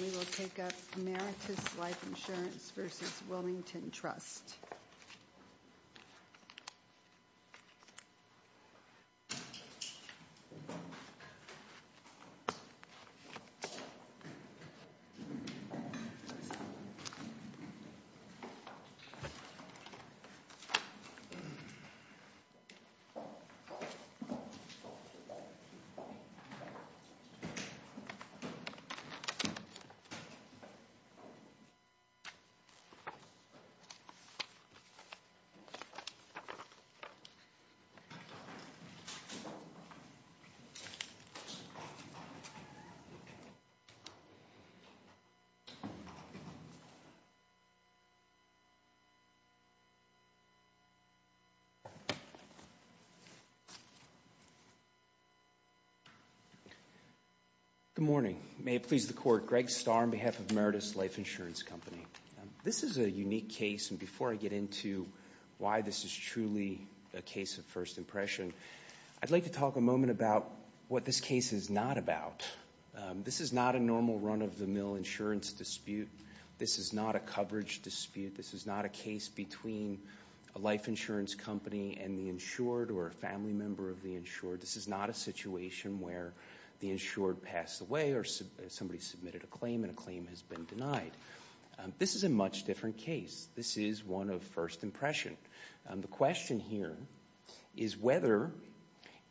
We will take up Emeritus Life Insurance v. Wilmington Trust. Good morning. May it please the Court. Greg Starr on behalf of Emeritus Life Insurance Company. This is a unique case, and before I get into why this is truly a case of first impression, I'd like to talk a moment about what this case is not about. This is not a normal run-of-the-mill insurance dispute. This is not a coverage dispute. This is not a case between a life insurance company and the insured or a family member of the insured. This is not a situation where the insured passed away or somebody submitted a claim and a claim has been denied. This is a much different case. This is one of first impression. The question here is whether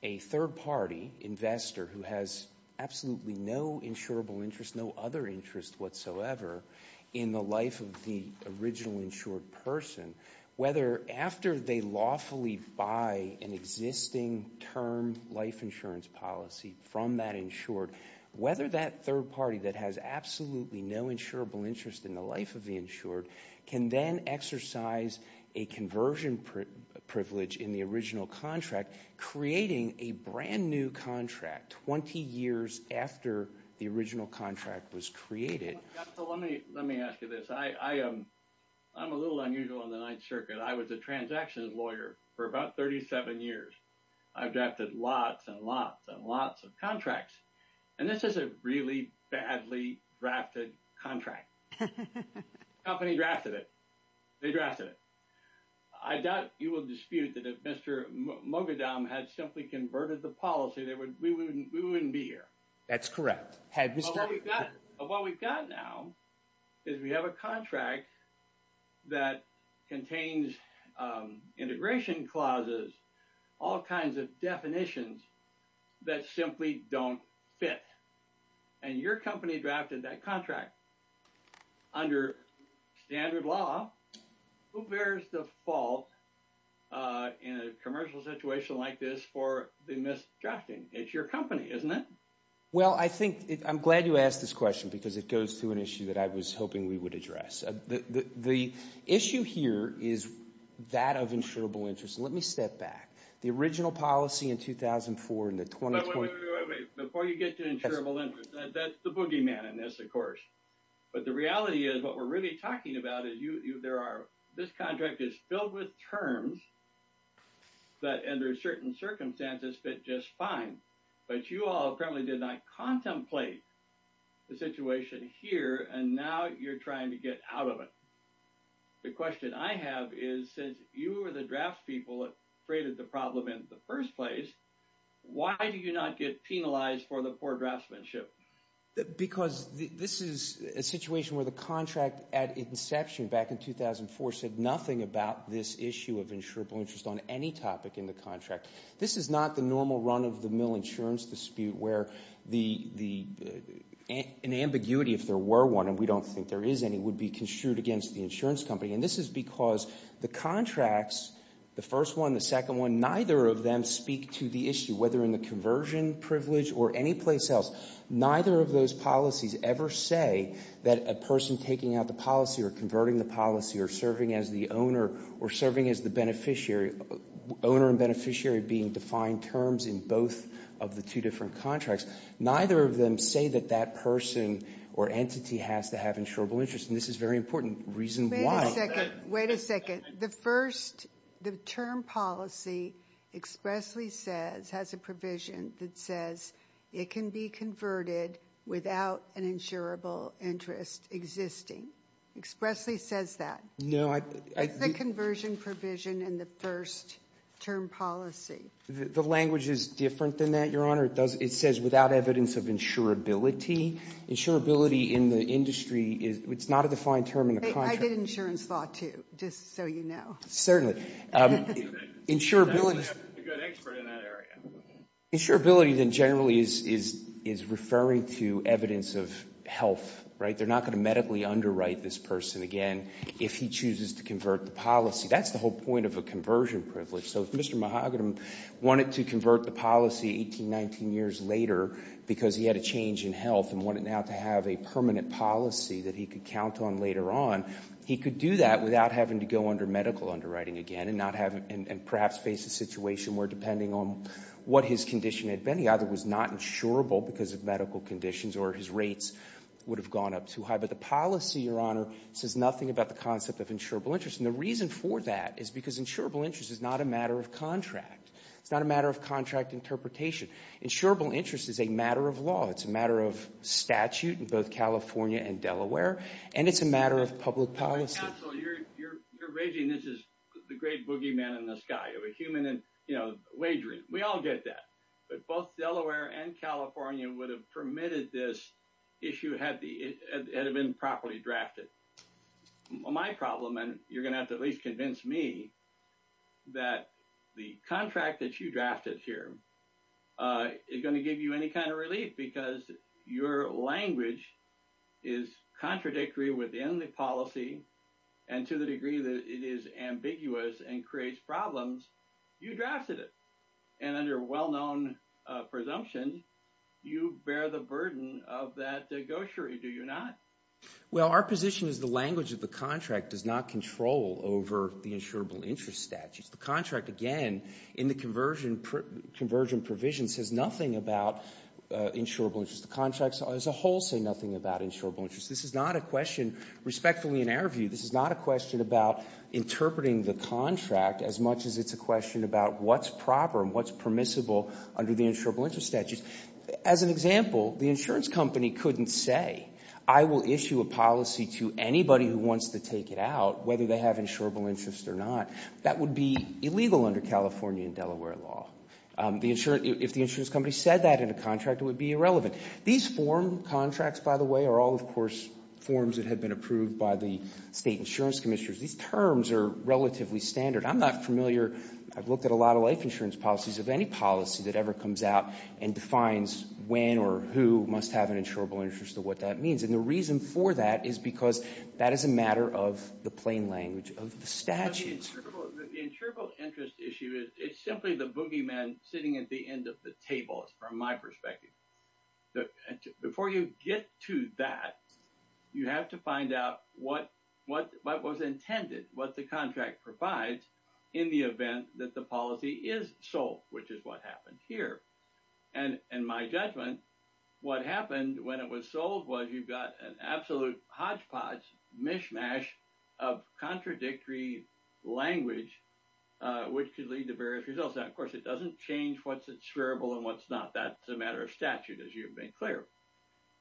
a third party investor who has absolutely no insurable interest, no other interest whatsoever in the life of the original insured person, whether after they lawfully buy an existing term life insurance policy from that insured, whether that third party that has absolutely no insurable interest in the life of the insured can then exercise a conversion privilege in the original contract, creating a brand new contract 20 years after the original contract was created. Let me ask you this. I'm a little unusual on the Ninth Circuit. I was a transactions lawyer for about 37 years. I've drafted lots and lots and lots of contracts, and this is a really badly drafted contract. Company drafted it. They drafted it. I doubt you will dispute that if Mr. Mogadom had simply converted the policy, we wouldn't be here. That's correct. What we've got now is we have a contract that contains integration clauses, all kinds of definitions that simply don't fit. Your company drafted that contract under standard law. Who bears the fault in a commercial situation like this for the misdrafting? It's your company, isn't it? Well, I think, I'm glad you asked this question because it goes to an issue that I was hoping we would address. The issue here is that of insurable interest. Let me step back. The original policy in 2004 and the 2020- Wait, wait, wait, wait, wait. Before you get to insurable interest, that's the boogeyman in this, of course. But the reality is what we're really talking about is this contract is filled with terms that under certain circumstances fit just fine. But you all apparently did not contemplate the situation here, and now you're trying to get out of it. The question I have is since you were the draftspeople that created the problem in the first place, why do you not get penalized for the poor draftsmanship? Because this is a situation where the contract at inception back in 2004 said nothing about this issue of insurable interest on any topic in the contract. This is not the normal run-of-the-mill insurance dispute where an ambiguity, if there were one, and we don't think there is any, would be construed against the insurance company. And this is because the contracts, the first one, the second one, neither of them speak to the issue, whether in the conversion privilege or anyplace else. Neither of those policies ever say that a person taking out the policy or converting the policy or serving as the owner or serving as the beneficiary, owner and beneficiary being defined terms in both of the two different contracts. Neither of them say that that person or entity has to have insurable interest, and this is very important reason why. Wait a second. The first, the term policy expressly says, has a provision that says it can be converted without an insurable interest existing. Expressly says that. No, I... It's the conversion provision in the first term policy. The language is different than that, Your Honor. It says without evidence of insurability. Insurability in the industry is, it's not a defined term in the contract. I did insurance law, too, just so you know. Insurability... You have to have a good expert in that area. Insurability then generally is referring to evidence of health, right? They're not going to medically underwrite this person again if he chooses to convert the policy. That's the whole point of a conversion privilege. So if Mr. Mahogany wanted to convert the policy 18, 19 years later because he had a change in health and wanted now to have a permanent policy that he could count on later on, he could do that without having to go under medical underwriting again and perhaps face a situation where depending on what his condition had been, he either was not insurable because of medical conditions or his rates would have gone up too high. But the policy, Your Honor, says nothing about the concept of insurable interest. And the reason for that is because insurable interest is not a matter of contract. It's not a matter of contract interpretation. Insurable interest is a matter of law. It's a matter of statute in both California and Delaware. And it's a matter of public policy. Counsel, you're raising this as the great boogeyman in the sky, a human wagering. We all get that. But both Delaware and California would have permitted this issue had it been properly drafted. My problem, and you're going to have to at least convince me that the contract that you drafted here is going to give you any kind of relief because your language is contradictory within the policy and to the degree that it is ambiguous and creates problems. You drafted it. And under well-known presumption, you bear the burden of that negotiator, do you not? Well, our position is the language of the contract does not control over the insurable interest statutes. The contract, again, in the conversion provision says nothing about insurable interest. The contracts as a whole say nothing about insurable interest. This is not a question, respectfully, in our view. This is not a question about interpreting the contract as much as it's a question about what's proper and what's permissible under the insurable interest statutes. As an example, the insurance company couldn't say I will issue a policy to anybody who wants to take it out, whether they have insurable interest or not. That would be illegal under California and Delaware law. If the insurance company said that in a contract, it would be irrelevant. These form contracts, by the way, are all, of course, forms that had been approved by the state insurance commissioners. These terms are relatively standard. I'm not familiar. I've looked at a lot of life insurance policies of any policy that ever comes out and defines when or who must have an insurable interest or what that means. And the reason for that is because that is a matter of the plain language of the statutes. The insurable interest issue is simply the boogeyman sitting at the end of the table, is from my perspective. Before you get to that, you have to find out what was intended, what the contract provides in the event that the policy is sold, which is what happened here. And in my judgment, what happened when it was sold was you got an absolute hodgepodge, mishmash of contradictory language, which could lead to various results. Now, of course, it doesn't change what's insurable and what's not. That's a matter of statute, as you've made clear.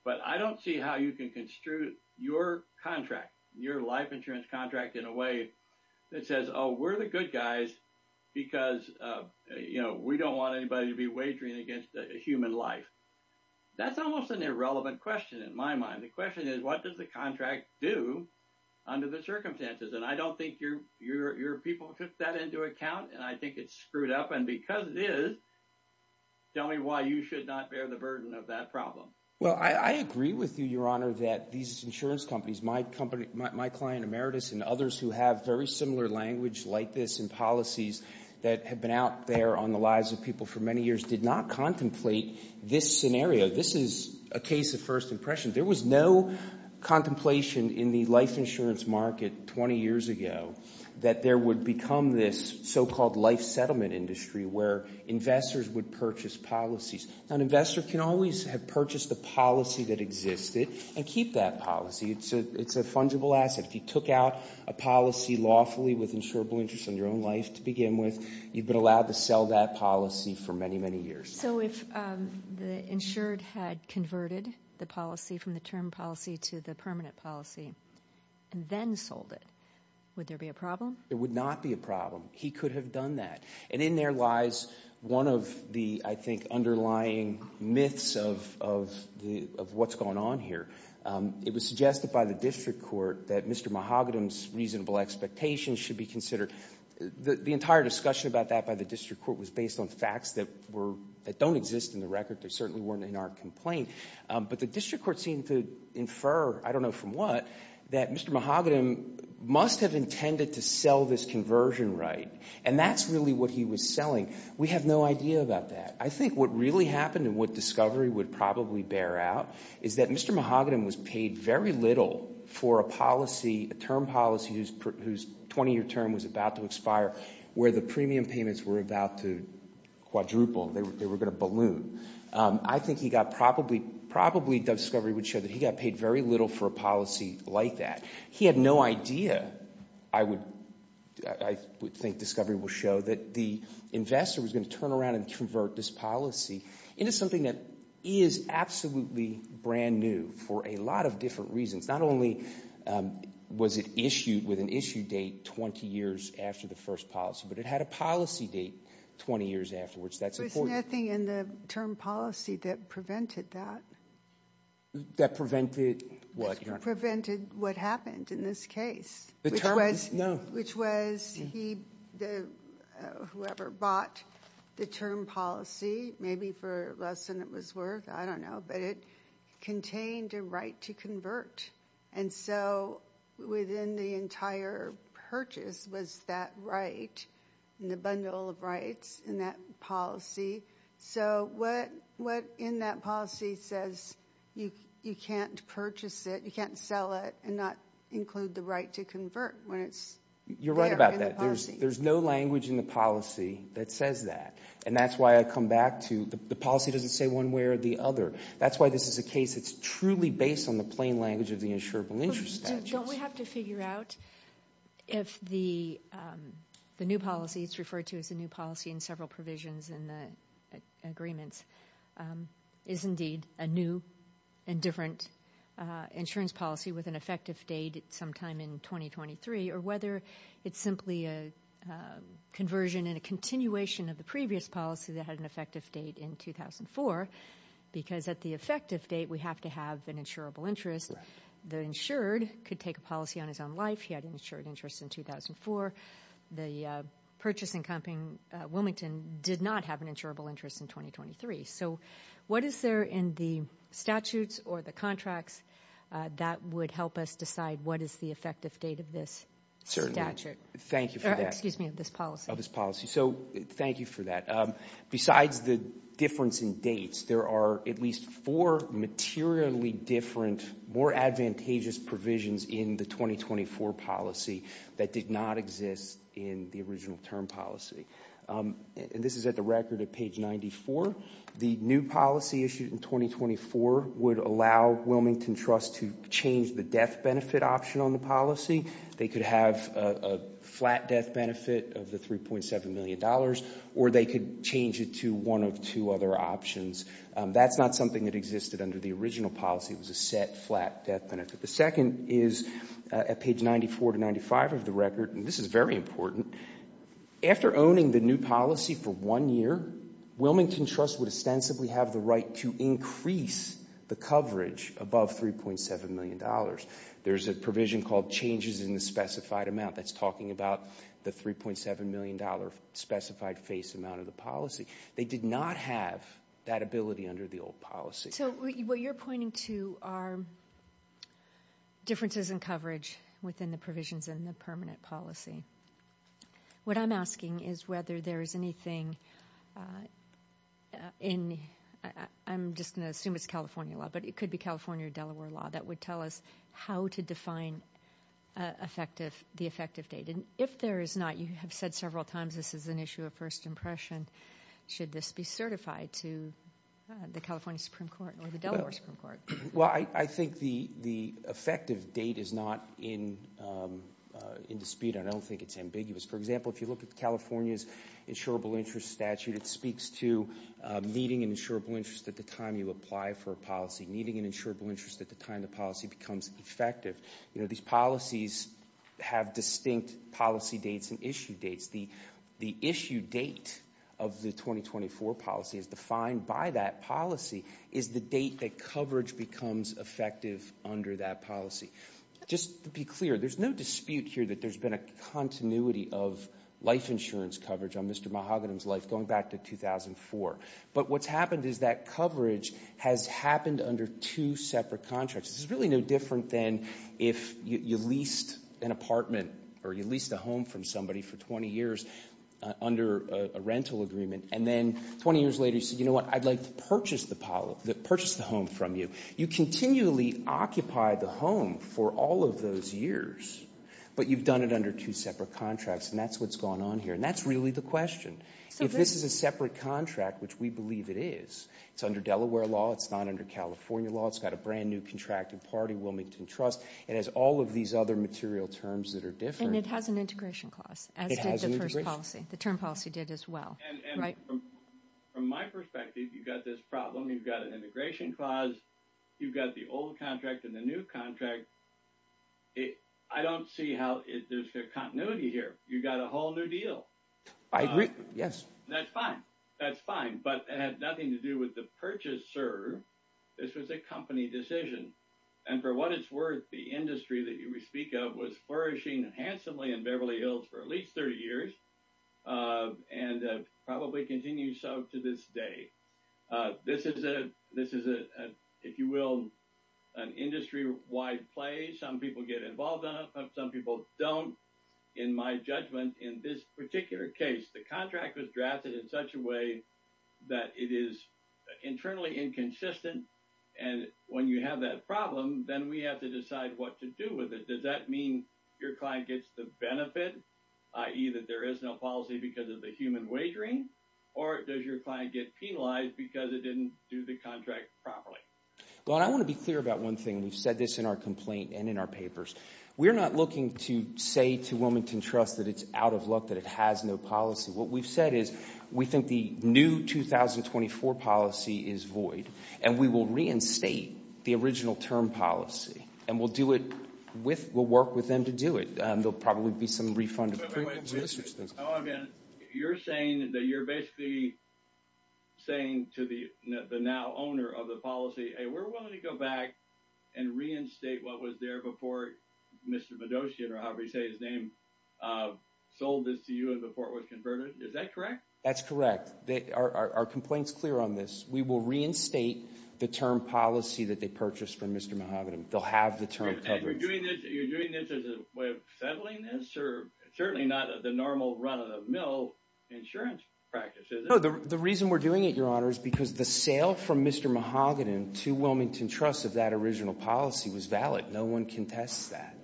But I don't see how you can construe your contract, your life insurance contract in a way that says, oh, we're the good guys because, you know, we don't want anybody to be wagering against a human life. That's almost an irrelevant question in my mind. The question is, what does the contract do under the circumstances? And I don't think your people took that into account. And I think it's screwed up. And because it is. Tell me why you should not bear the burden of that problem. Well, I agree with you, Your Honor, that these insurance companies, my company, my client, Emeritus, and others who have very similar language like this in policies that have been out there on the lives of people for many years, did not contemplate this scenario. This is a case of first impression. There was no contemplation in the life insurance market 20 years ago that there would become this so-called life settlement industry where investors would purchase policies. An investor can always have purchased the policy that existed and keep that policy. It's a fungible asset. If you took out a policy lawfully with insurable interest in your own life to begin with, you've been allowed to sell that policy for many, many years. So if the insured had converted the policy from the term policy to the permanent policy and then sold it, would there be a problem? It would not be a problem. He could have done that. And in there lies one of the, I think, underlying myths of what's going on here. It was suggested by the district court that Mr. Mahogany's reasonable expectations should be considered. The entire discussion about that by the district court was based on facts that don't exist in the record. They certainly weren't in our complaint. But the district court seemed to infer, I don't know from what, that Mr. Mahogany must have intended to sell this conversion right. And that's really what he was selling. We have no idea about that. I think what really happened and what discovery would probably bear out is that Mr. Mahogany was paid very little for a policy, a term policy whose 20 year term was about to expire, where the premium payments were about to quadruple, they were going to balloon. I think he got probably, discovery would show that he got paid very little for a policy like that. He had no idea, I would think discovery will show, that the investor was going to turn around and convert this policy into something that is absolutely brand new for a lot of different reasons. Not only was it issued with an issue date 20 years after the first policy, but it had a policy date 20 years afterwards. That's important. There's nothing in the term policy that prevented that. That prevented what? That prevented what happened in this case. The term? No. Which was, whoever bought the term policy, maybe for less than it was worth, I don't know, but it contained a right to convert. And so within the entire purchase was that right, the bundle of rights in that policy. So what in that policy says you can't purchase it, you can't sell it and not include the right to convert when it's there in the policy? You're right about that. There's no language in the policy that says that. And that's why I come back to, the policy doesn't say one way or the other. That's why this is a case that's truly based on the plain language of the insurable interest statute. Don't we have to figure out if the new policy, it's referred to as the new policy in several provisions in the agreements, is indeed a new and different insurance policy with an effective date sometime in 2023, or whether it's simply a conversion and a continuation of the previous policy that had an effective date in 2004. Because at the effective date, we have to have an insurable interest. The insured could take a policy on his own life. He had an insured interest in 2004. The purchasing company Wilmington did not have an insurable interest in 2023. So what is there in the statutes or the contracts that would help us decide what is the effective date of this statute? Thank you for that. Excuse me, of this policy. Of this policy. So thank you for that. Besides the difference in dates, there are at least four materially different, more advantageous provisions in the 2024 policy that did not exist in the original term policy. And this is at the record at page 94. The new policy issued in 2024 would allow Wilmington Trust to change the death benefit option on the policy. They could have a flat death benefit of the $3.7 million, or they could change it to one of two other options. That's not something that existed under the original policy. It was a set flat death benefit. The second is at page 94 to 95 of the record, and this is very important. After owning the new policy for one year, Wilmington Trust would ostensibly have the right to increase the coverage above $3.7 million. There's a provision called changes in the specified amount that's talking about the $3.7 million specified face amount of the policy. They did not have that ability under the old policy. So what you're pointing to are differences in coverage within the provisions in the permanent policy. What I'm asking is whether there is anything in, I'm just going to assume it's California law, but it could be California or Delaware law, that would tell us how to define the effective date. And if there is not, you have said several times this is an issue of first impression. Should this be certified to the California Supreme Court or the Delaware Supreme Court? Well, I think the effective date is not in dispute, and I don't think it's ambiguous. For example, if you look at California's insurable interest statute, it speaks to needing an insurable interest at the time you apply for a policy. Needing an insurable interest at the time the policy becomes effective. These policies have distinct policy dates and issue dates. The issue date of the 2024 policy is defined by that policy, is the date that coverage becomes effective under that policy. Just to be clear, there's no dispute here that there's been a continuity of life insurance coverage on Mr. Mahogany's life going back to 2004. But what's happened is that coverage has happened under two separate contracts. This is really no different than if you leased an apartment or you leased a home from somebody for 20 years under a rental agreement. And then 20 years later, you said, you know what, I'd like to purchase the home from you. You continually occupy the home for all of those years. But you've done it under two separate contracts, and that's what's going on here. And that's really the question. If this is a separate contract, which we believe it is, it's under Delaware law, it's not under California law. It's got a brand new contracted party, Wilmington Trust. It has all of these other material terms that are different. And it has an integration clause, as did the first policy. The term policy did as well, right? And from my perspective, you've got this problem. You've got an integration clause. You've got the old contract and the new contract. I don't see how there's a continuity here. You've got a whole new deal. I agree, yes. That's fine. That's fine, but it has nothing to do with the purchase, sir. This was a company decision. And for what it's worth, the industry that we speak of was flourishing handsomely in Beverly Hills for at least 30 years, and probably continues so to this day. This is, if you will, an industry-wide play. Some people get involved in it. Some people don't, in my judgment, in this particular case. The contract was drafted in such a way that it is internally inconsistent. And when you have that problem, then we have to decide what to do with it. Does that mean your client gets the benefit, i.e., that there is no policy because of the human wagering? Or does your client get penalized because it didn't do the contract properly? Well, I want to be clear about one thing. We've said this in our complaint and in our papers. We're not looking to say to Wilmington Trust that it's out of luck, that it has no policy. What we've said is, we think the new 2024 policy is void. And we will reinstate the original term policy. And we'll do it with, we'll work with them to do it. There'll probably be some refund- Wait, wait, wait. Oh, again, you're saying that you're basically saying to the now owner of the policy, we're willing to go back and reinstate what was there before Mr. Medosian, or however you say his name, sold this to you and the port was converted? Is that correct? That's correct. Our complaint's clear on this. We will reinstate the term policy that they purchased from Mr. Mahogany. They'll have the term covered. And you're doing this as a way of settling this? Or certainly not the normal run-of-the-mill insurance practice, is it? No, the reason we're doing it, Your Honor, is because the sale from Mr. Mahogany to Wilmington Trust of that original policy was valid. No one contests that.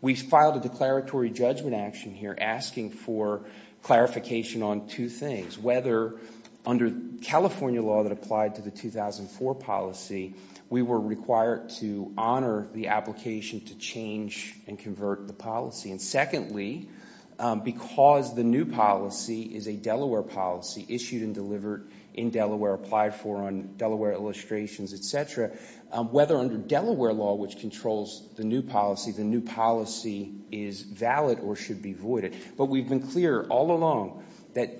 We filed a declaratory judgment action here asking for clarification on two things. Whether, under California law that applied to the 2004 policy, we were required to honor the application to change and convert the policy. Secondly, because the new policy is a Delaware policy, issued and delivered in Delaware, applied for on Delaware illustrations, et cetera, whether under Delaware law, which controls the new policy, the new policy is valid or should be voided. But we've been clear all along that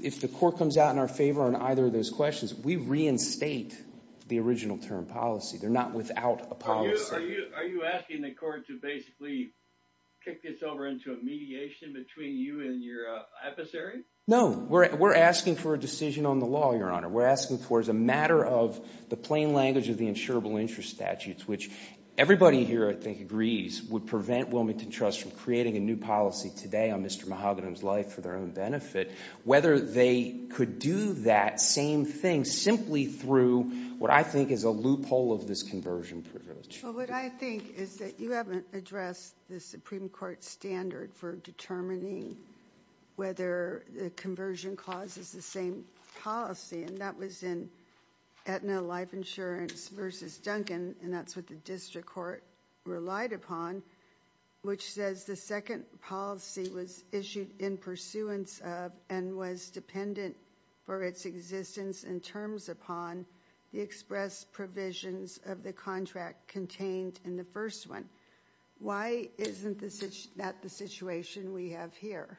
if the court comes out in our favor on either of those questions, we reinstate the original term policy. They're not without a policy. Are you asking the court to basically kick this over into a mediation between you and your adversary? No, we're asking for a decision on the law, Your Honor. We're asking for, as a matter of the plain language of the insurable interest statutes, which everybody here, I think, agrees would prevent Wilmington Trust from creating a new policy today on Mr. Mahogany's life for their own benefit, whether they could do that same thing simply through what I think is a loophole of this conversion privilege. Well, what I think is that you haven't addressed the Supreme Court standard for determining whether the conversion clause is the same policy, and that was in Aetna Life Insurance versus Duncan, and that's what the district court relied upon, which says the second policy was issued in pursuance of and was dependent for its existence in terms upon the express provisions of the contract contained in the first one. Why isn't that the situation we have here?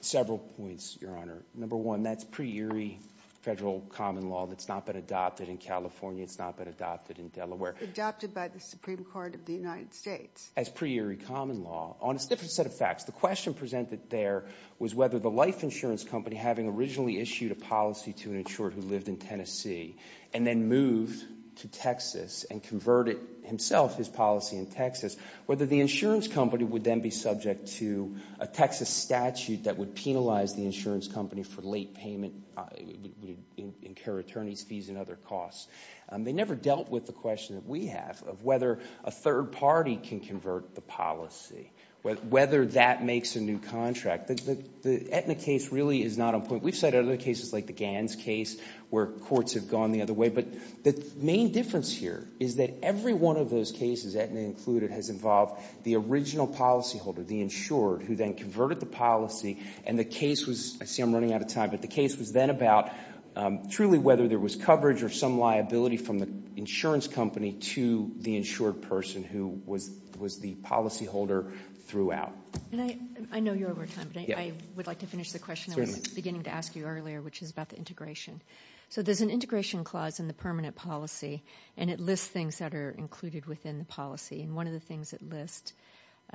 Several points, Your Honor. Number one, that's pre-eerie federal common law that's not been adopted in California. It's not been adopted in Delaware. Adopted by the Supreme Court of the United States. As pre-eerie common law. On a different set of facts, the question presented there was whether the life insurance company, having originally issued a policy to an insurer who lived in Tennessee, and then moved to Texas and converted himself, his policy in Texas, whether the insurance company would then be subject to a Texas statute that would penalize the insurance company for late payment, incur attorney's fees and other costs. They never dealt with the question that we have of whether a third party can convert the policy, whether that makes a new contract. The Aetna case really is not on point. We've said other cases like the Gans case, where courts have gone the other way. But the main difference here is that every one of those cases, Aetna included, has involved the original policyholder, the insured, who then converted the policy, and the case was, I see I'm running out of time, but the case was then about truly whether there was coverage or some liability from the insurance company to the insured person who was the policyholder throughout. I know you're over time, but I would like to finish the question I was beginning to ask you earlier, which is about the integration. There's an integration clause in the permanent policy, and it lists things that are included within the policy. One of the things it lists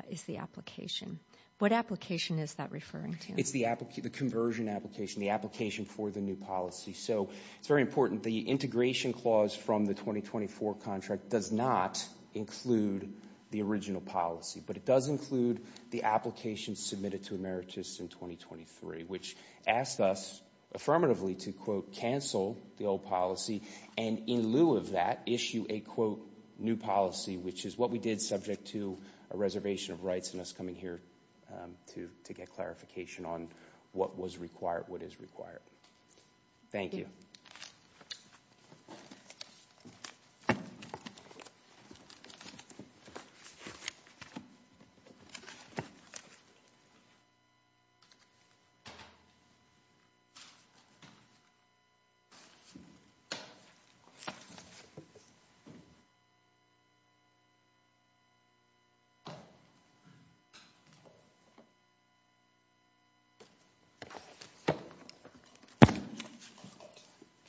is the application. What application is that referring to? It's the conversion application, the application for the new policy. It's very important. The integration clause from the 2024 contract does not include the original policy, but it does include the application submitted to Emeritus in 2023, which asked us affirmatively to, quote, cancel the old policy, and in lieu of that, issue a, quote, new policy, which is what we did subject to a reservation of rights and us coming here to get clarification on what was required, what is required. Thank you.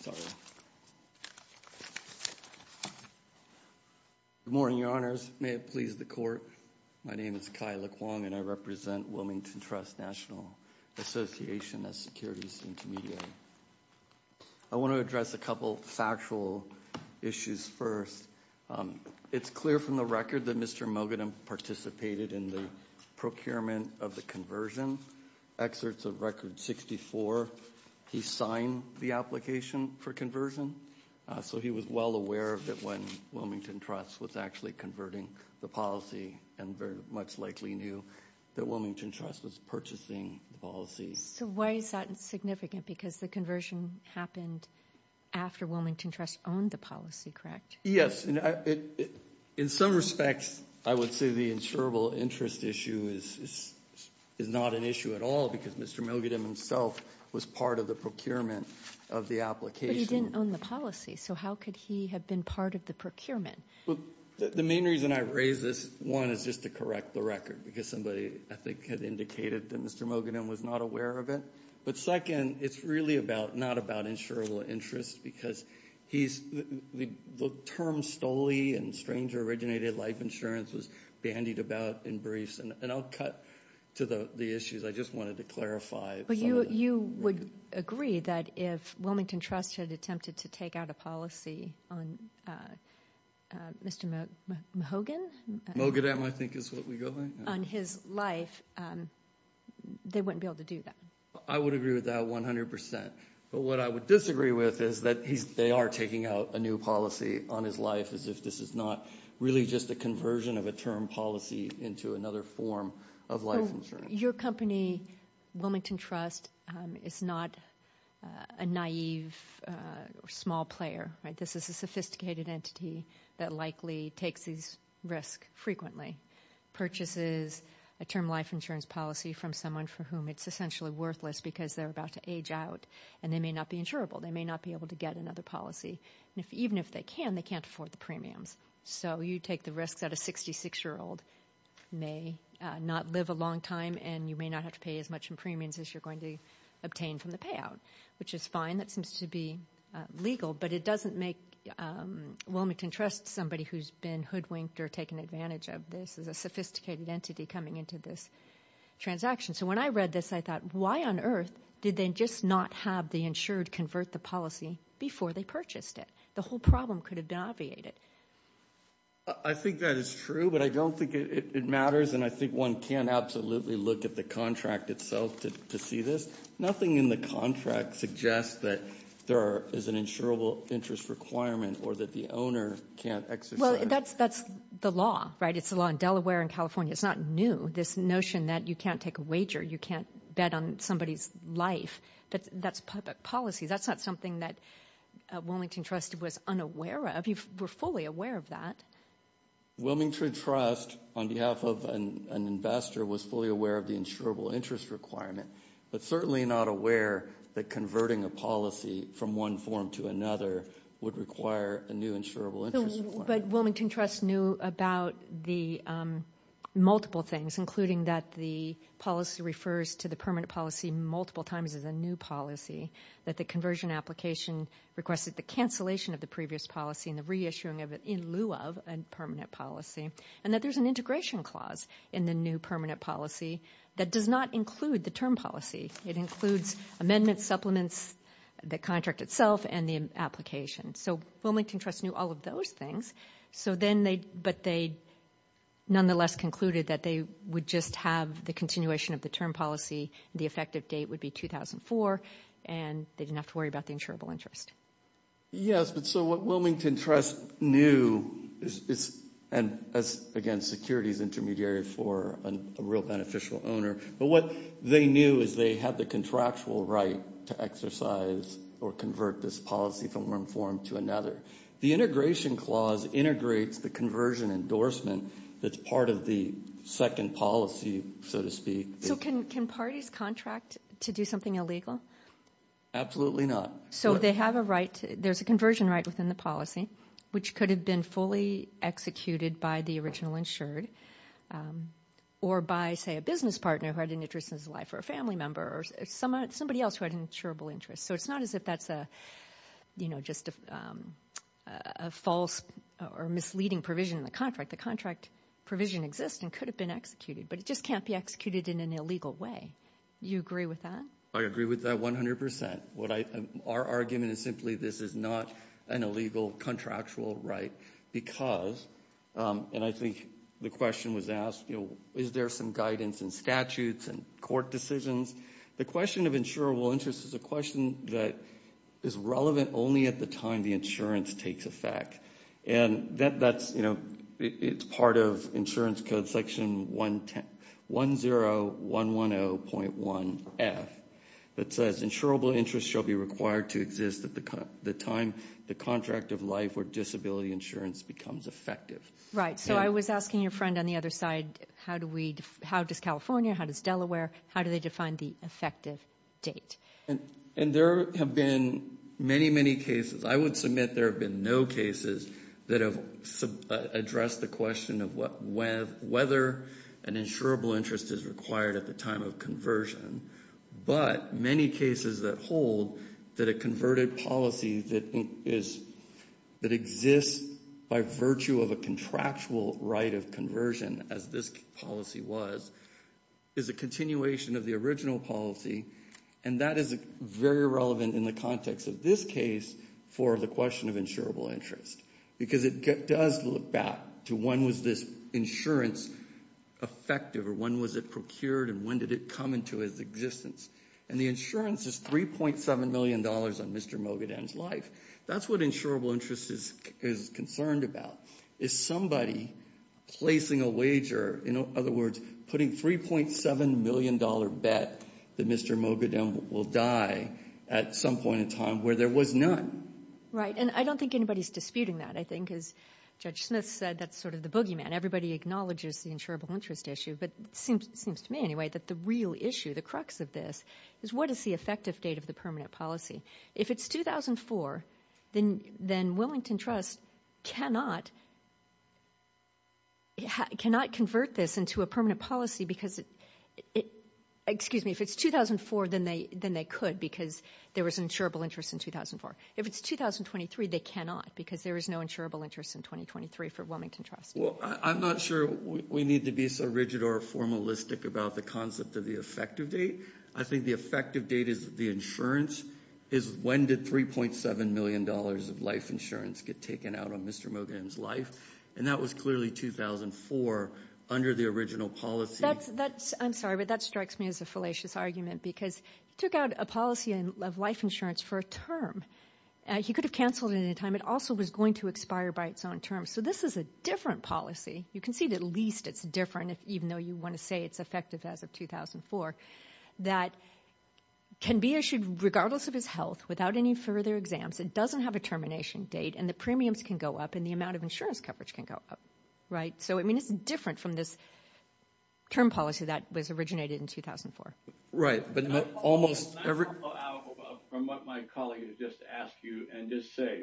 Sorry. Good morning, Your Honors. May it please the Court. My name is Kai LeQuang, and I represent Wilmington Trust National Association of Securities and Community. I want to address a couple factual issues first. It's clear from the record that Mr. Mogadom participated in the procurement of the conversion. Excerpts of Record 64, he signed the application for conversion, so he was well aware of it when Wilmington Trust was actually converting the policy and very much likely knew that Wilmington Trust was purchasing the policy. So why is that significant? Because the conversion happened after Wilmington Trust owned the policy, correct? Yes. In some respects, I would say the insurable interest issue is not an issue at all because Mr. Mogadom himself was part of the procurement of the application. But he didn't own the policy, so how could he have been part of the procurement? The main reason I raise this, one, is just to correct the record because somebody, I think, had indicated that Mr. Mogadom was not aware of it. But second, it's really not about insurable interest because the term STOLI and Stranger Originated Life Insurance was bandied about in briefs. And I'll cut to the issues. I just wanted to clarify. You would agree that if Wilmington Trust had attempted to take out a policy on Mr. Mogadom, I think is what we go by, on his life, they wouldn't be able to do that? I would agree with that 100%. But what I would disagree with is that they are taking out a new policy on his life as if this is not really just a conversion of a term policy into another form of life insurance. Your company, Wilmington Trust, is not a naive or small player, right? This is a sophisticated entity that likely takes these risks frequently, purchases a term life insurance policy from someone for whom it's essentially worthless because they're about to age out and they may not be insurable. They may not be able to get another policy. And even if they can, they can't afford the premiums. So you take the risks that a 66-year-old may not live a long time and you may not have to pay as much in premiums as you're going to obtain from the payout, which is fine. That seems to be legal. But it doesn't make Wilmington Trust somebody who's been hoodwinked or taken advantage of this as a sophisticated entity coming into this transaction. So when I read this, I thought, why on earth did they just not have the insured convert the policy before they purchased it? The whole problem could have been obviated. I think that is true, but I don't think it matters. And I think one can absolutely look at the contract itself to see this. Nothing in the contract suggests that there is an insurable interest requirement or that the owner can't exercise. Well, that's the law, right? It's the law in Delaware and California. It's not new, this notion that you can't take a wager. You can't bet on somebody's life. But that's public policy. That's not something that Wilmington Trust was unaware of. You were fully aware of that. Wilmington Trust, on behalf of an investor, was fully aware of the insurable interest requirement. But certainly not aware that converting a policy from one form to another would require a new insurable interest requirement. But Wilmington Trust knew about the multiple things, including that the policy refers to the permanent policy multiple times as a new policy, that the conversion application requested the cancellation of the previous policy and the reissuing of it in lieu of a permanent policy, and that there's an integration clause in the new permanent policy that does not include the term policy. It includes amendments, supplements, the contract itself, and the application. So Wilmington Trust knew all of those things. But they nonetheless concluded that they would just have the continuation of the term policy, the effective date would be 2004, and they didn't have to worry about the insurable interest. Yes, but so what Wilmington Trust knew, and again, security is intermediary for a real beneficial owner, but what they knew is they have the contractual right to exercise or convert this policy from one form to another. The integration clause integrates the conversion endorsement that's part of the second policy, so to speak. So can parties contract to do something illegal? Absolutely not. So they have a right, there's a conversion right within the policy, which could have been fully executed by the original insured, or by, say, a business partner who had an interest in his life, or a family member, or somebody else who had an insurable interest. So it's not as if that's a, you know, just a false or misleading provision in the contract. The contract provision exists and could have been executed, but it just can't be executed in an illegal way. You agree with that? I agree with that 100%. What I, our argument is simply this is not an illegal contractual right, because, and I think the question was asked, you know, is there some guidance and statutes and court decisions? The question of insurable interest is a question that is relevant only at the time the insurance takes effect. And that's, you know, it's part of insurance code section 10110.1F that says insurable interest shall be required to exist at the time the contract of life or disability insurance becomes effective. Right. So I was asking your friend on the other side, how do we, how does California, how does Delaware, how do they define the effective date? And there have been many, many cases, I would submit there have been no cases that have addressed the question of whether an insurable interest is required at the time of conversion, but many cases that hold that a converted policy that is, that exists by virtue of a contractual right of conversion, as this policy was, is a continuation of the original policy. And that is very relevant in the context of this case for the question of insurable interest. Because it does look back to when was this insurance effective or when was it procured and when did it come into its existence? And the insurance is $3.7 million on Mr. Mogadam's life. That's what insurable interest is concerned about, is somebody placing a wager, in other words, putting $3.7 million bet that Mr. Mogadam will die at some point in time where there was none. Right. And I don't think anybody's disputing that. I think as Judge Smith said, that's sort of the boogeyman. Everybody acknowledges the insurable interest issue, but it seems to me anyway that the real issue, the crux of this, is what is the effective date of the permanent policy? If it's 2004, then Wilmington Trust cannot convert this into a permanent policy because it, excuse me, if it's 2004, then they could because there was an insurable interest in 2004. If it's 2023, they cannot because there is no insurable interest in 2023 for Wilmington Trust. Well, I'm not sure we need to be so rigid or formalistic about the concept of the effective date. I think the effective date is the insurance, is when did $3.7 million of life insurance get taken out on Mr. Mogadam's life? And that was clearly 2004 under the original policy. I'm sorry, but that strikes me as a fallacious argument because he took out a policy of life insurance for a term. He could have canceled it at any time. It also was going to expire by its own term. So this is a different policy. You can see that at least it's different, even though you want to say it's effective as of 2004, that can be issued regardless of his health without any further exams. It doesn't have a termination date and the premiums can go up and the amount of insurance coverage can go up, right? So, I mean, it's different from this term policy that was originated in 2004. Right, but almost... I'll follow out from what my colleague has just asked you and just say,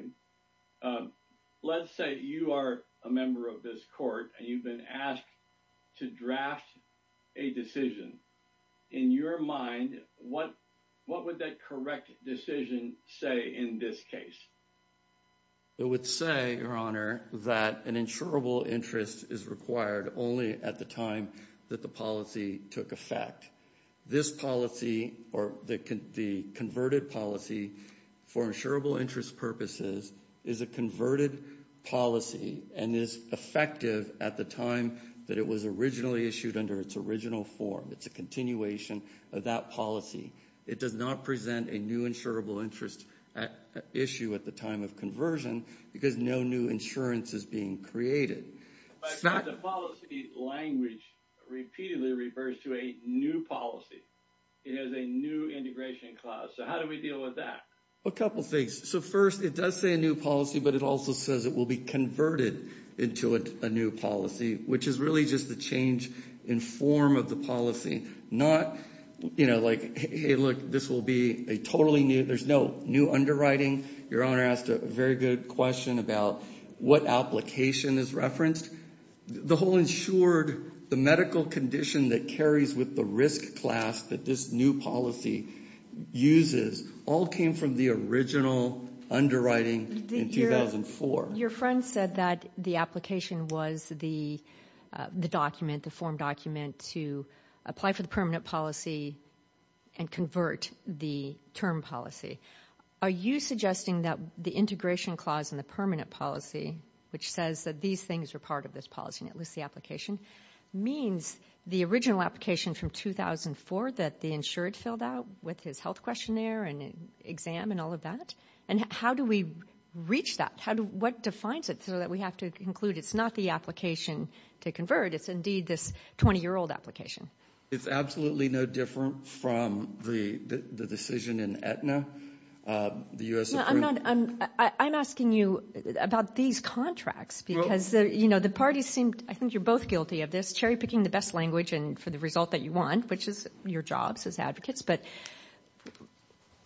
let's say you are a member of this court and you've been asked to draft a decision. In your mind, what would that correct decision say in this case? It would say, Your Honor, that an insurable interest is required only at the time that the policy took effect. This policy or the converted policy for insurable interest purposes is a converted policy and is effective at the time that it was originally issued under its original form. It's a continuation of that policy. It does not present a new insurable interest issue at the time of conversion because no new insurance is being created. But the policy language repeatedly refers to a new policy. It has a new integration clause. So how do we deal with that? A couple of things. So first, it does say a new policy, but it also says it will be converted into a new policy, which is really just the change in form of the policy, not like, hey, look, this will be a totally new... There's no new underwriting. Your Honor asked a very good question about what application is referenced. The whole insured, the medical condition that carries with the risk class that this new policy uses all came from the original underwriting in 2004. Your friend said that the application was the document, the form document to apply for the permanent policy and convert the term policy. Are you suggesting that the integration clause in the permanent policy, which says that these things are part of this policy and it lists the application, means the original application from 2004, that the insured filled out with his health questionnaire and exam and all of that? And how do we reach that? What defines it so that we have to conclude it's not the application to convert, it's indeed this 20-year-old application? It's absolutely no different from the decision in Aetna, the U.S. agreement. I'm asking you about these contracts because the parties seemed, I think you're both guilty of this, cherry-picking the best language for the result that you want, which is your jobs as advocates. But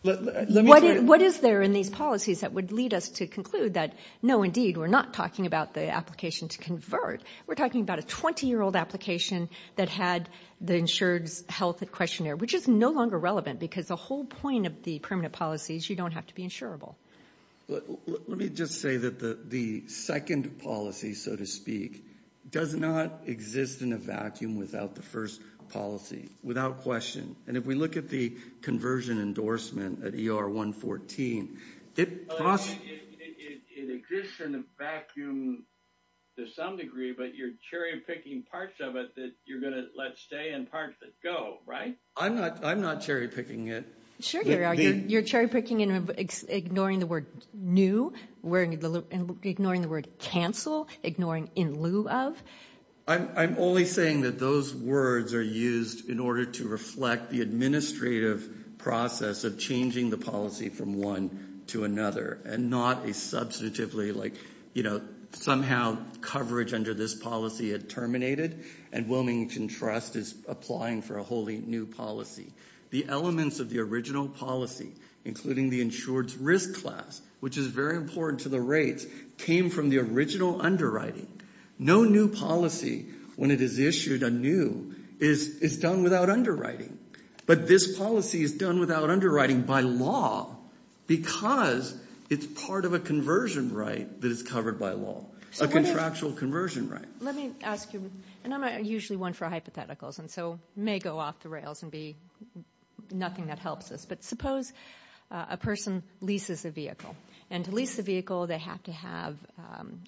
what is there in these policies that would lead us to conclude that, no, indeed, we're not talking about the application to convert. We're talking about a 20-year-old application that had the insured's health questionnaire, which is no longer relevant because the whole point of the permanent policies, you don't have to be insurable. Let me just say that the second policy, so to speak, does not exist in a vacuum without the first policy, without question. And if we look at the conversion endorsement at ER 114, it exists in a vacuum to some degree, but you're cherry-picking parts of it that you're going to let stay and parts that go, right? I'm not cherry-picking it. Sure, Gary, you're cherry-picking and ignoring the word new, ignoring the word cancel, ignoring in lieu of. I'm only saying that those words are used in order to reflect the administrative process of changing the policy from one to another and not a substantively, like, you know, somehow coverage under this policy had terminated and Wilmington Trust is applying for a wholly new policy. The elements of the original policy, including the insured's risk class, which is very important to the rates, came from the original underwriting. No new policy, when it is issued anew, is done without underwriting, but this policy is done without underwriting by law because it's part of a conversion right that is covered by law, a contractual conversion right. Let me ask you, and I'm usually one for hypotheticals and so may go off the rails and be nothing that helps us, but suppose a person leases a vehicle and to lease a vehicle, they have to have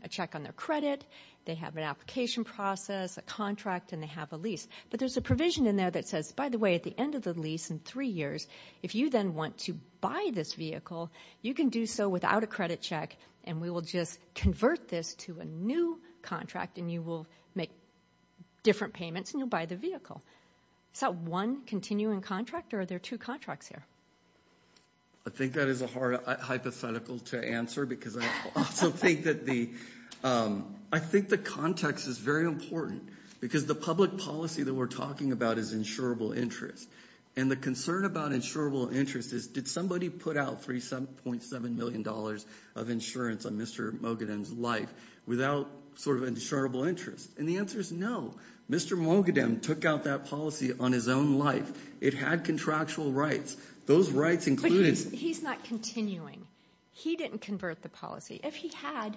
a check on their credit, they have an application process, a contract, and they have a lease, but there's a provision in there that says, by the way, at the end of the lease in three years, if you then want to buy this vehicle, you can do so without a credit check and we will just convert this to a new contract and you will make different payments and you'll buy the vehicle. Is that one continuing contract or are there two contracts here? I think that is a hard hypothetical to answer because I also think that the, I think the context is very important because the public policy that we're talking about is insurable interest and the concern about insurable interest is did somebody put out 3.7 million dollars of insurance on Mr. Mogadem's life without sort of insurable interest? And the answer is no. Mr. Mogadem took out that policy on his own life. It had contractual rights. Those rights included. He's not continuing. He didn't convert the policy. If he had,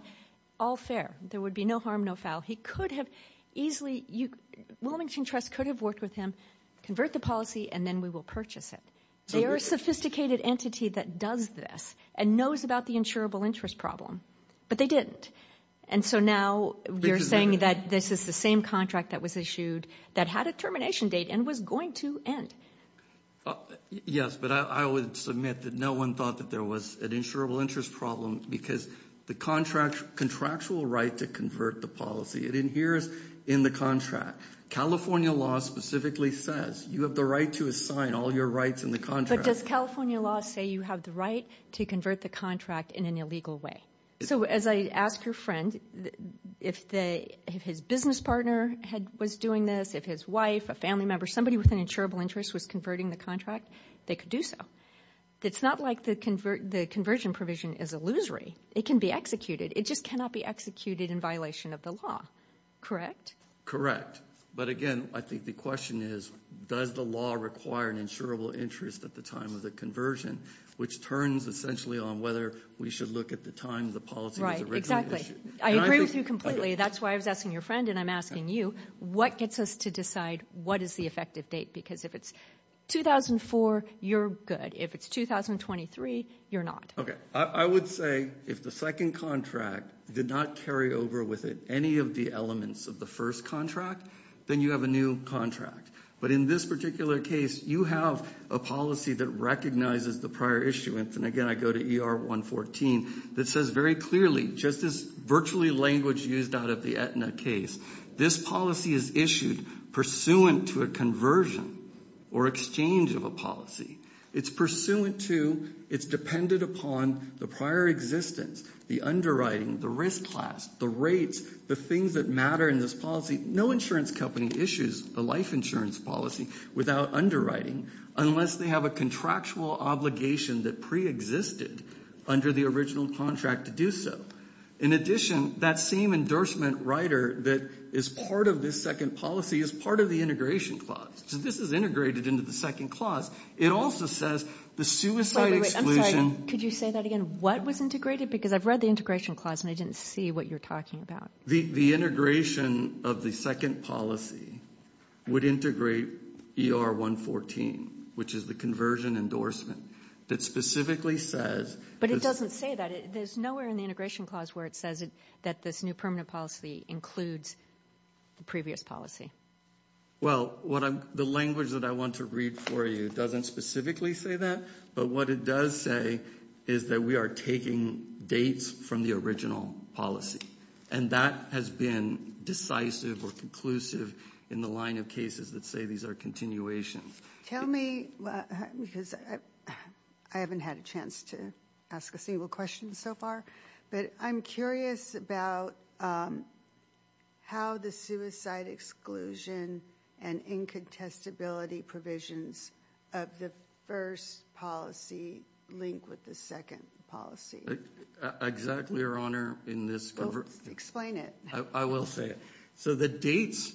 all fair. There would be no harm, no foul. He could have easily, Wilmington Trust could have worked with him, convert the policy and then we will purchase it. They are a sophisticated entity that does this and knows about the insurable interest problem, but they didn't. And so now you're saying that this is the same contract that was issued that had a termination date and was going to end. Yes, but I would submit that no one thought there was an insurable interest problem because the contractual right to convert the policy, it adheres in the contract. California law specifically says you have the right to assign all your rights in the contract. But does California law say you have the right to convert the contract in an illegal way? So as I ask your friend, if his business partner was doing this, if his wife, a family member, somebody with an insurable interest was converting the contract, they could do so. It's not like the conversion provision is illusory. It can be executed. It just cannot be executed in violation of the law, correct? Correct. But again, I think the question is, does the law require an insurable interest at the time of the conversion, which turns essentially on whether we should look at the time the policy was originally issued. I agree with you completely. That's why I was asking your friend and I'm asking you, what gets us to decide what is the effective date? Because if it's 2004, you're good. If it's 2023, you're not. Okay, I would say if the second contract did not carry over with it any of the elements of the first contract, then you have a new contract. But in this particular case, you have a policy that recognizes the prior issuance. And again, I go to ER 114 that says very clearly, just as virtually language used out of the Aetna case, this policy is issued pursuant to a conversion or exchange of a policy. It's pursuant to, it's dependent upon the prior existence, the underwriting, the risk class, the rates, the things that matter in this policy. No insurance company issues a life insurance policy without underwriting, unless they have a contractual obligation that preexisted under the original contract to do so. In addition, that same endorsement writer that is part of this second policy is part of the integration clause. So this is integrated into the second clause. It also says the suicide exclusion- Wait, wait, wait, I'm sorry. Could you say that again? What was integrated? Because I've read the integration clause and I didn't see what you're talking about. The integration of the second policy would integrate ER 114, which is the conversion endorsement that specifically says- But it doesn't say that. There's nowhere in the integration clause where it says that this new permanent policy includes the previous policy. Well, the language that I want to read for you doesn't specifically say that, but what it does say is that we are taking dates from the original policy. And that has been decisive or conclusive in the line of cases that say these are continuations. Tell me, because I haven't had a chance to ask a single question so far, but I'm curious about how the suicide exclusion and incontestability provisions of the first policy link with the second policy. Exactly, Your Honor, in this- Explain it. I will say it. So the dates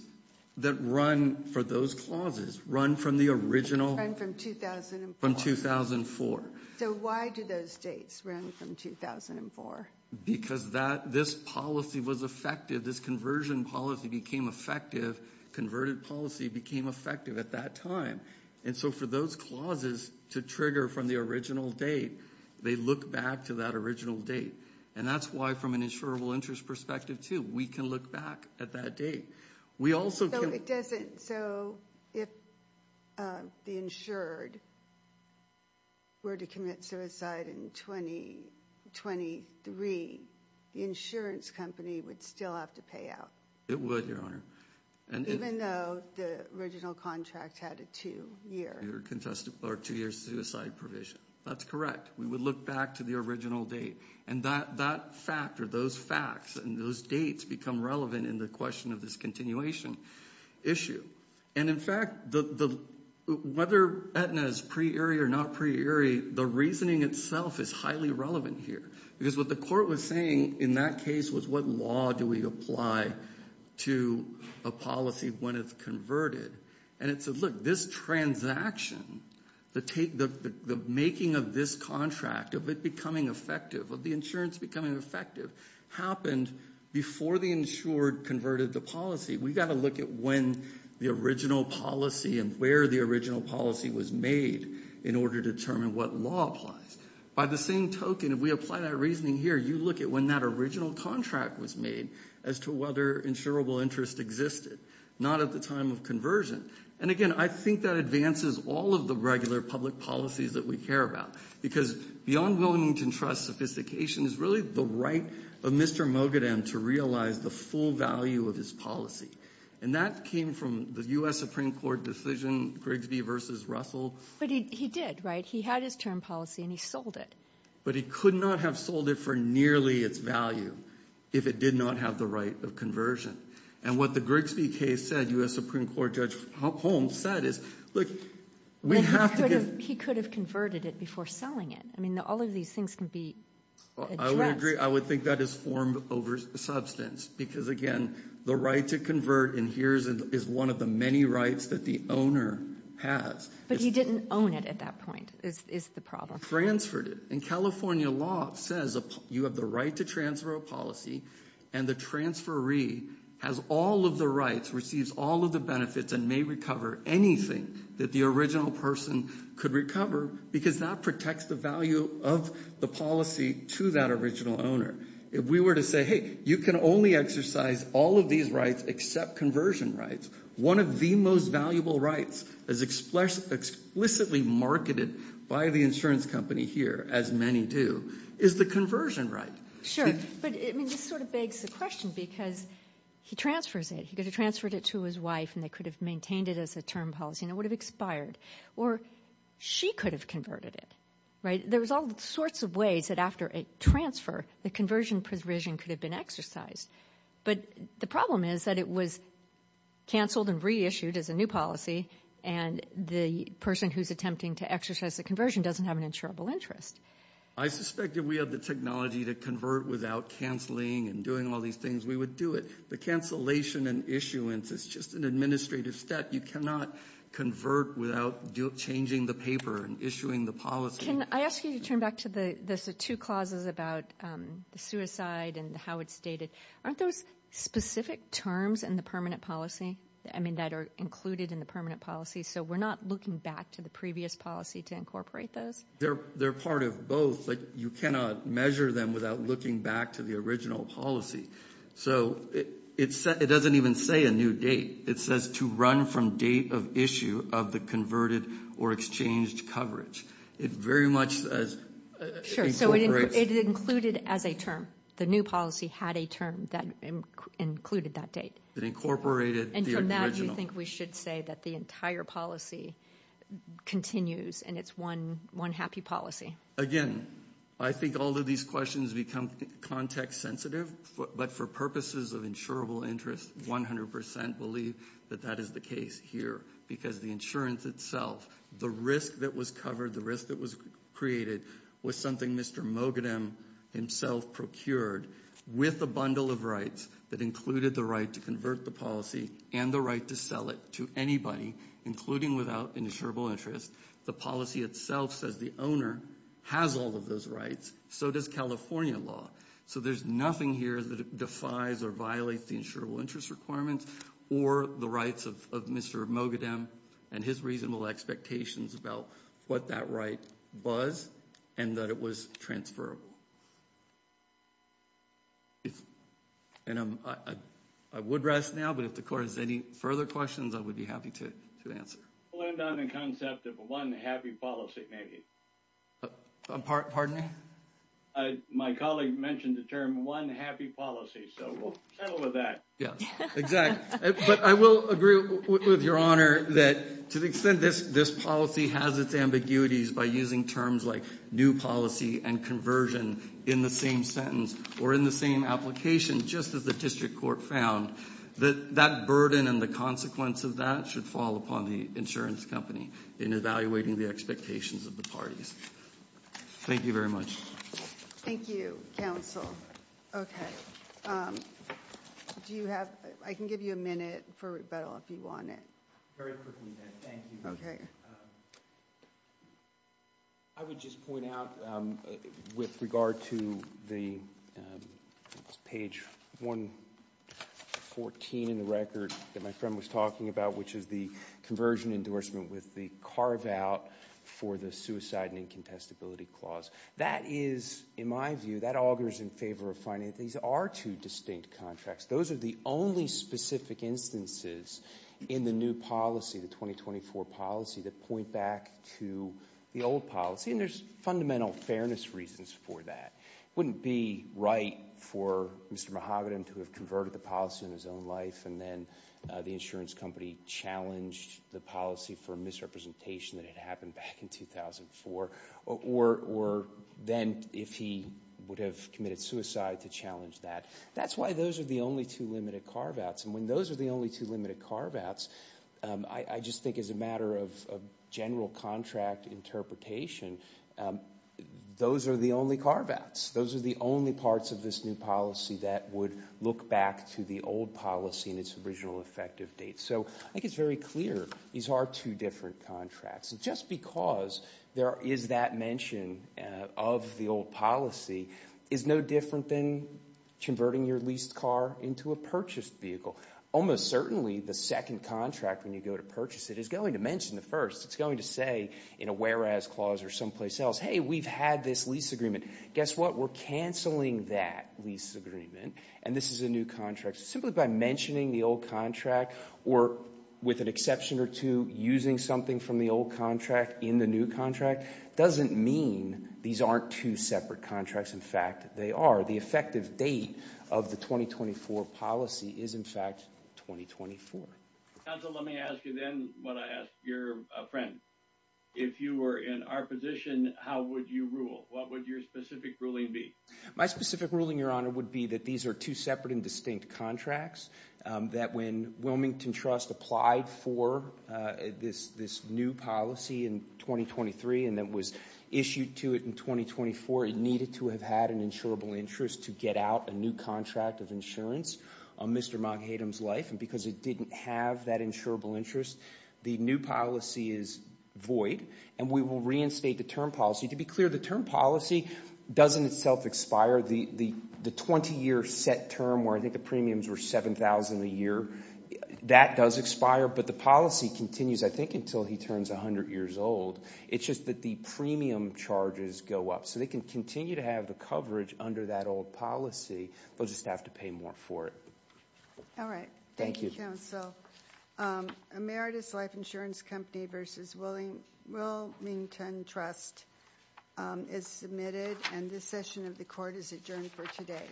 that run for those clauses run from the original- Run from 2004. From 2004. So why do those dates run from 2004? Because this policy was effective. This conversion policy became effective. Converted policy became effective at that time. And so for those clauses to trigger from the original date, they look back to that original date. And that's why, from an insurable interest perspective too, we can look back at that date. We also can- So it doesn't- So if the insured were to commit suicide in 2023, the insurance company would still have to pay out. It would, Your Honor. Even though the original contract had a two-year- You're contesting our two-year suicide provision. That's correct. We would look back to the original date. And that factor, those facts, and those dates become relevant in the question of this continuation issue. And in fact, whether Aetna is pre-ERI or not pre-ERI, the reasoning itself is highly relevant here. Because what the court was saying in that case was what law do we apply to a policy when it's converted? And it said, look, this transaction, the making of this contract, of it becoming effective, of the insurance becoming effective, happened before the insured converted the policy. We've got to look at when the original policy and where the original policy was made in order to determine what law applies. By the same token, if we apply that reasoning here, you look at when that original contract was made as to whether insurable interest existed, not at the time of conversion. And again, I think that advances all of the regular public policies that we care about. Because beyond Wilmington Trust sophistication is really the right of Mr. Mogadam to realize the full value of his policy. And that came from the U.S. Supreme Court decision, Grigsby versus Russell. But he did, right? He had his term policy and he sold it. But he could not have sold it for nearly its value if it did not have the right of conversion. And what the Grigsby case said, U.S. Supreme Court Judge Holmes said is, look, we have to get- He could have converted it before selling it. I mean, all of these things can be addressed. I would think that is formed over substance. Because again, the right to convert in here is one of the many rights that the owner has. But he didn't own it at that point, is the problem. Transferred it. And California law says you have the right to transfer a policy and the transferee has all of the rights, receives all of the benefits and may recover anything that the original person could recover because that protects the value of the policy to that original owner. If we were to say, hey, you can only exercise all of these rights except conversion rights. One of the most valuable rights as explicitly marketed by the insurance company here, as many do, is the conversion right. Sure. But I mean, this sort of begs the question because he transfers it. He could have transferred it to his wife and they could have maintained it as a term policy and it would have expired. Or she could have converted it, right? There's all sorts of ways that after a transfer, the conversion provision could have been exercised. But the problem is that it was canceled and reissued as a new policy and the person who's attempting to exercise the conversion doesn't have an insurable interest. I suspect if we have the technology to convert without canceling and doing all these things, we would do it. The cancellation and issuance is just an administrative step. You cannot convert without changing the paper and issuing the policy. I ask you to turn back to the two clauses about the suicide and how it's dated. Aren't those specific terms in the permanent policy? I mean, that are included in the permanent policy. So we're not looking back to the previous policy to incorporate those? They're part of both. You cannot measure them without looking back to the original policy. So it doesn't even say a new date. It says to run from date of issue of the converted or exchanged coverage. It very much says... Sure, so it included as a term. The new policy had a term that included that date. It incorporated the original. And from that, you think we should say that the entire policy continues and it's one happy policy? Again, I think all of these questions become context sensitive, but for purposes of insurable interest, 100% believe that that is the case here because the insurance itself, the risk that was covered, the risk that was created was something Mr. Mogadam himself procured with a bundle of rights that included the right to convert the policy and the right to sell it to anybody, including without insurable interest. The policy itself says the owner has all of those rights. So does California law. So there's nothing here that defies or violates the insurable interest requirements or the rights of Mr. Mogadam and his reasonable expectations about what that right was and that it was transferable. And I would rest now, but if the court has any further questions, I would be happy to answer. I'll end on the concept of one happy policy, maybe. Pardon me? My colleague mentioned the term one happy policy, so we'll settle with that. Yes, exactly. But I will agree with your honor that to the extent this policy has its ambiguities by using terms like new policy and conversion in the same sentence or in the same application, just as the district court found, that burden and the consequence of that should fall upon the insurance company in evaluating the expectations of the parties. Thank you very much. Thank you, counsel. Okay. Do you have, I can give you a minute for rebuttal if you want it. Very quickly then, thank you. I would just point out with regard to the page 114 in the record that my friend was talking about, which is the conversion endorsement with the carve out for the suicide and incontestability clause. That is, in my view, that augurs in favor of finding these are two distinct contracts. Those are the only specific instances in the new policy, the 2024 policy, that point back to the old policy. And there's fundamental fairness reasons for that. It wouldn't be right for Mr. Mahogany to have converted the policy in his own life and then the insurance company challenged the policy for misrepresentation that had happened back in 2004 or then if he would have committed suicide to challenge that. That's why those are the only two limited carve outs. And when those are the only two limited carve outs, I just think as a matter of general contract interpretation, those are the only carve outs. Those are the only parts of this new policy that would look back to the old policy and its original effective date. So I think it's very clear these are two different contracts. Just because there is that mention of the old policy is no different than converting your leased car into a purchased vehicle. Almost certainly the second contract when you go to purchase it is going to mention the first. It's going to say in a whereas clause or someplace else, hey, we've had this lease agreement. Guess what? We're canceling that lease agreement and this is a new contract. Simply by mentioning the old contract or with an exception or two using something from the old contract in the new contract doesn't mean these aren't two separate contracts. In fact, they are. The effective date of the 2024 policy is in fact 2024. Counsel, let me ask you then what I asked your friend. If you were in our position, how would you rule? What would your specific ruling be? My specific ruling, Your Honor, would be that these are two separate and distinct contracts that when Wilmington Trust applied for this new policy in 2023 and that was issued to it in 2024, it needed to have had an insurable interest to get out a new contract of insurance on Mr. Moghadam's life and because it didn't have that insurable interest, the new policy is void and we will reinstate the term policy. To be clear, the term policy doesn't itself expire. The 20-year set term where I think the premiums were $7,000 a year, that does expire, but the policy continues, I think, until he turns 100 years old. It's just that the premium charges go up. They can continue to have the coverage under that old policy. They'll just have to pay more for it. All right. Thank you, Counsel. Emeritus Life Insurance Company v. Wilmington Trust is submitted and this session of the court is adjourned for today.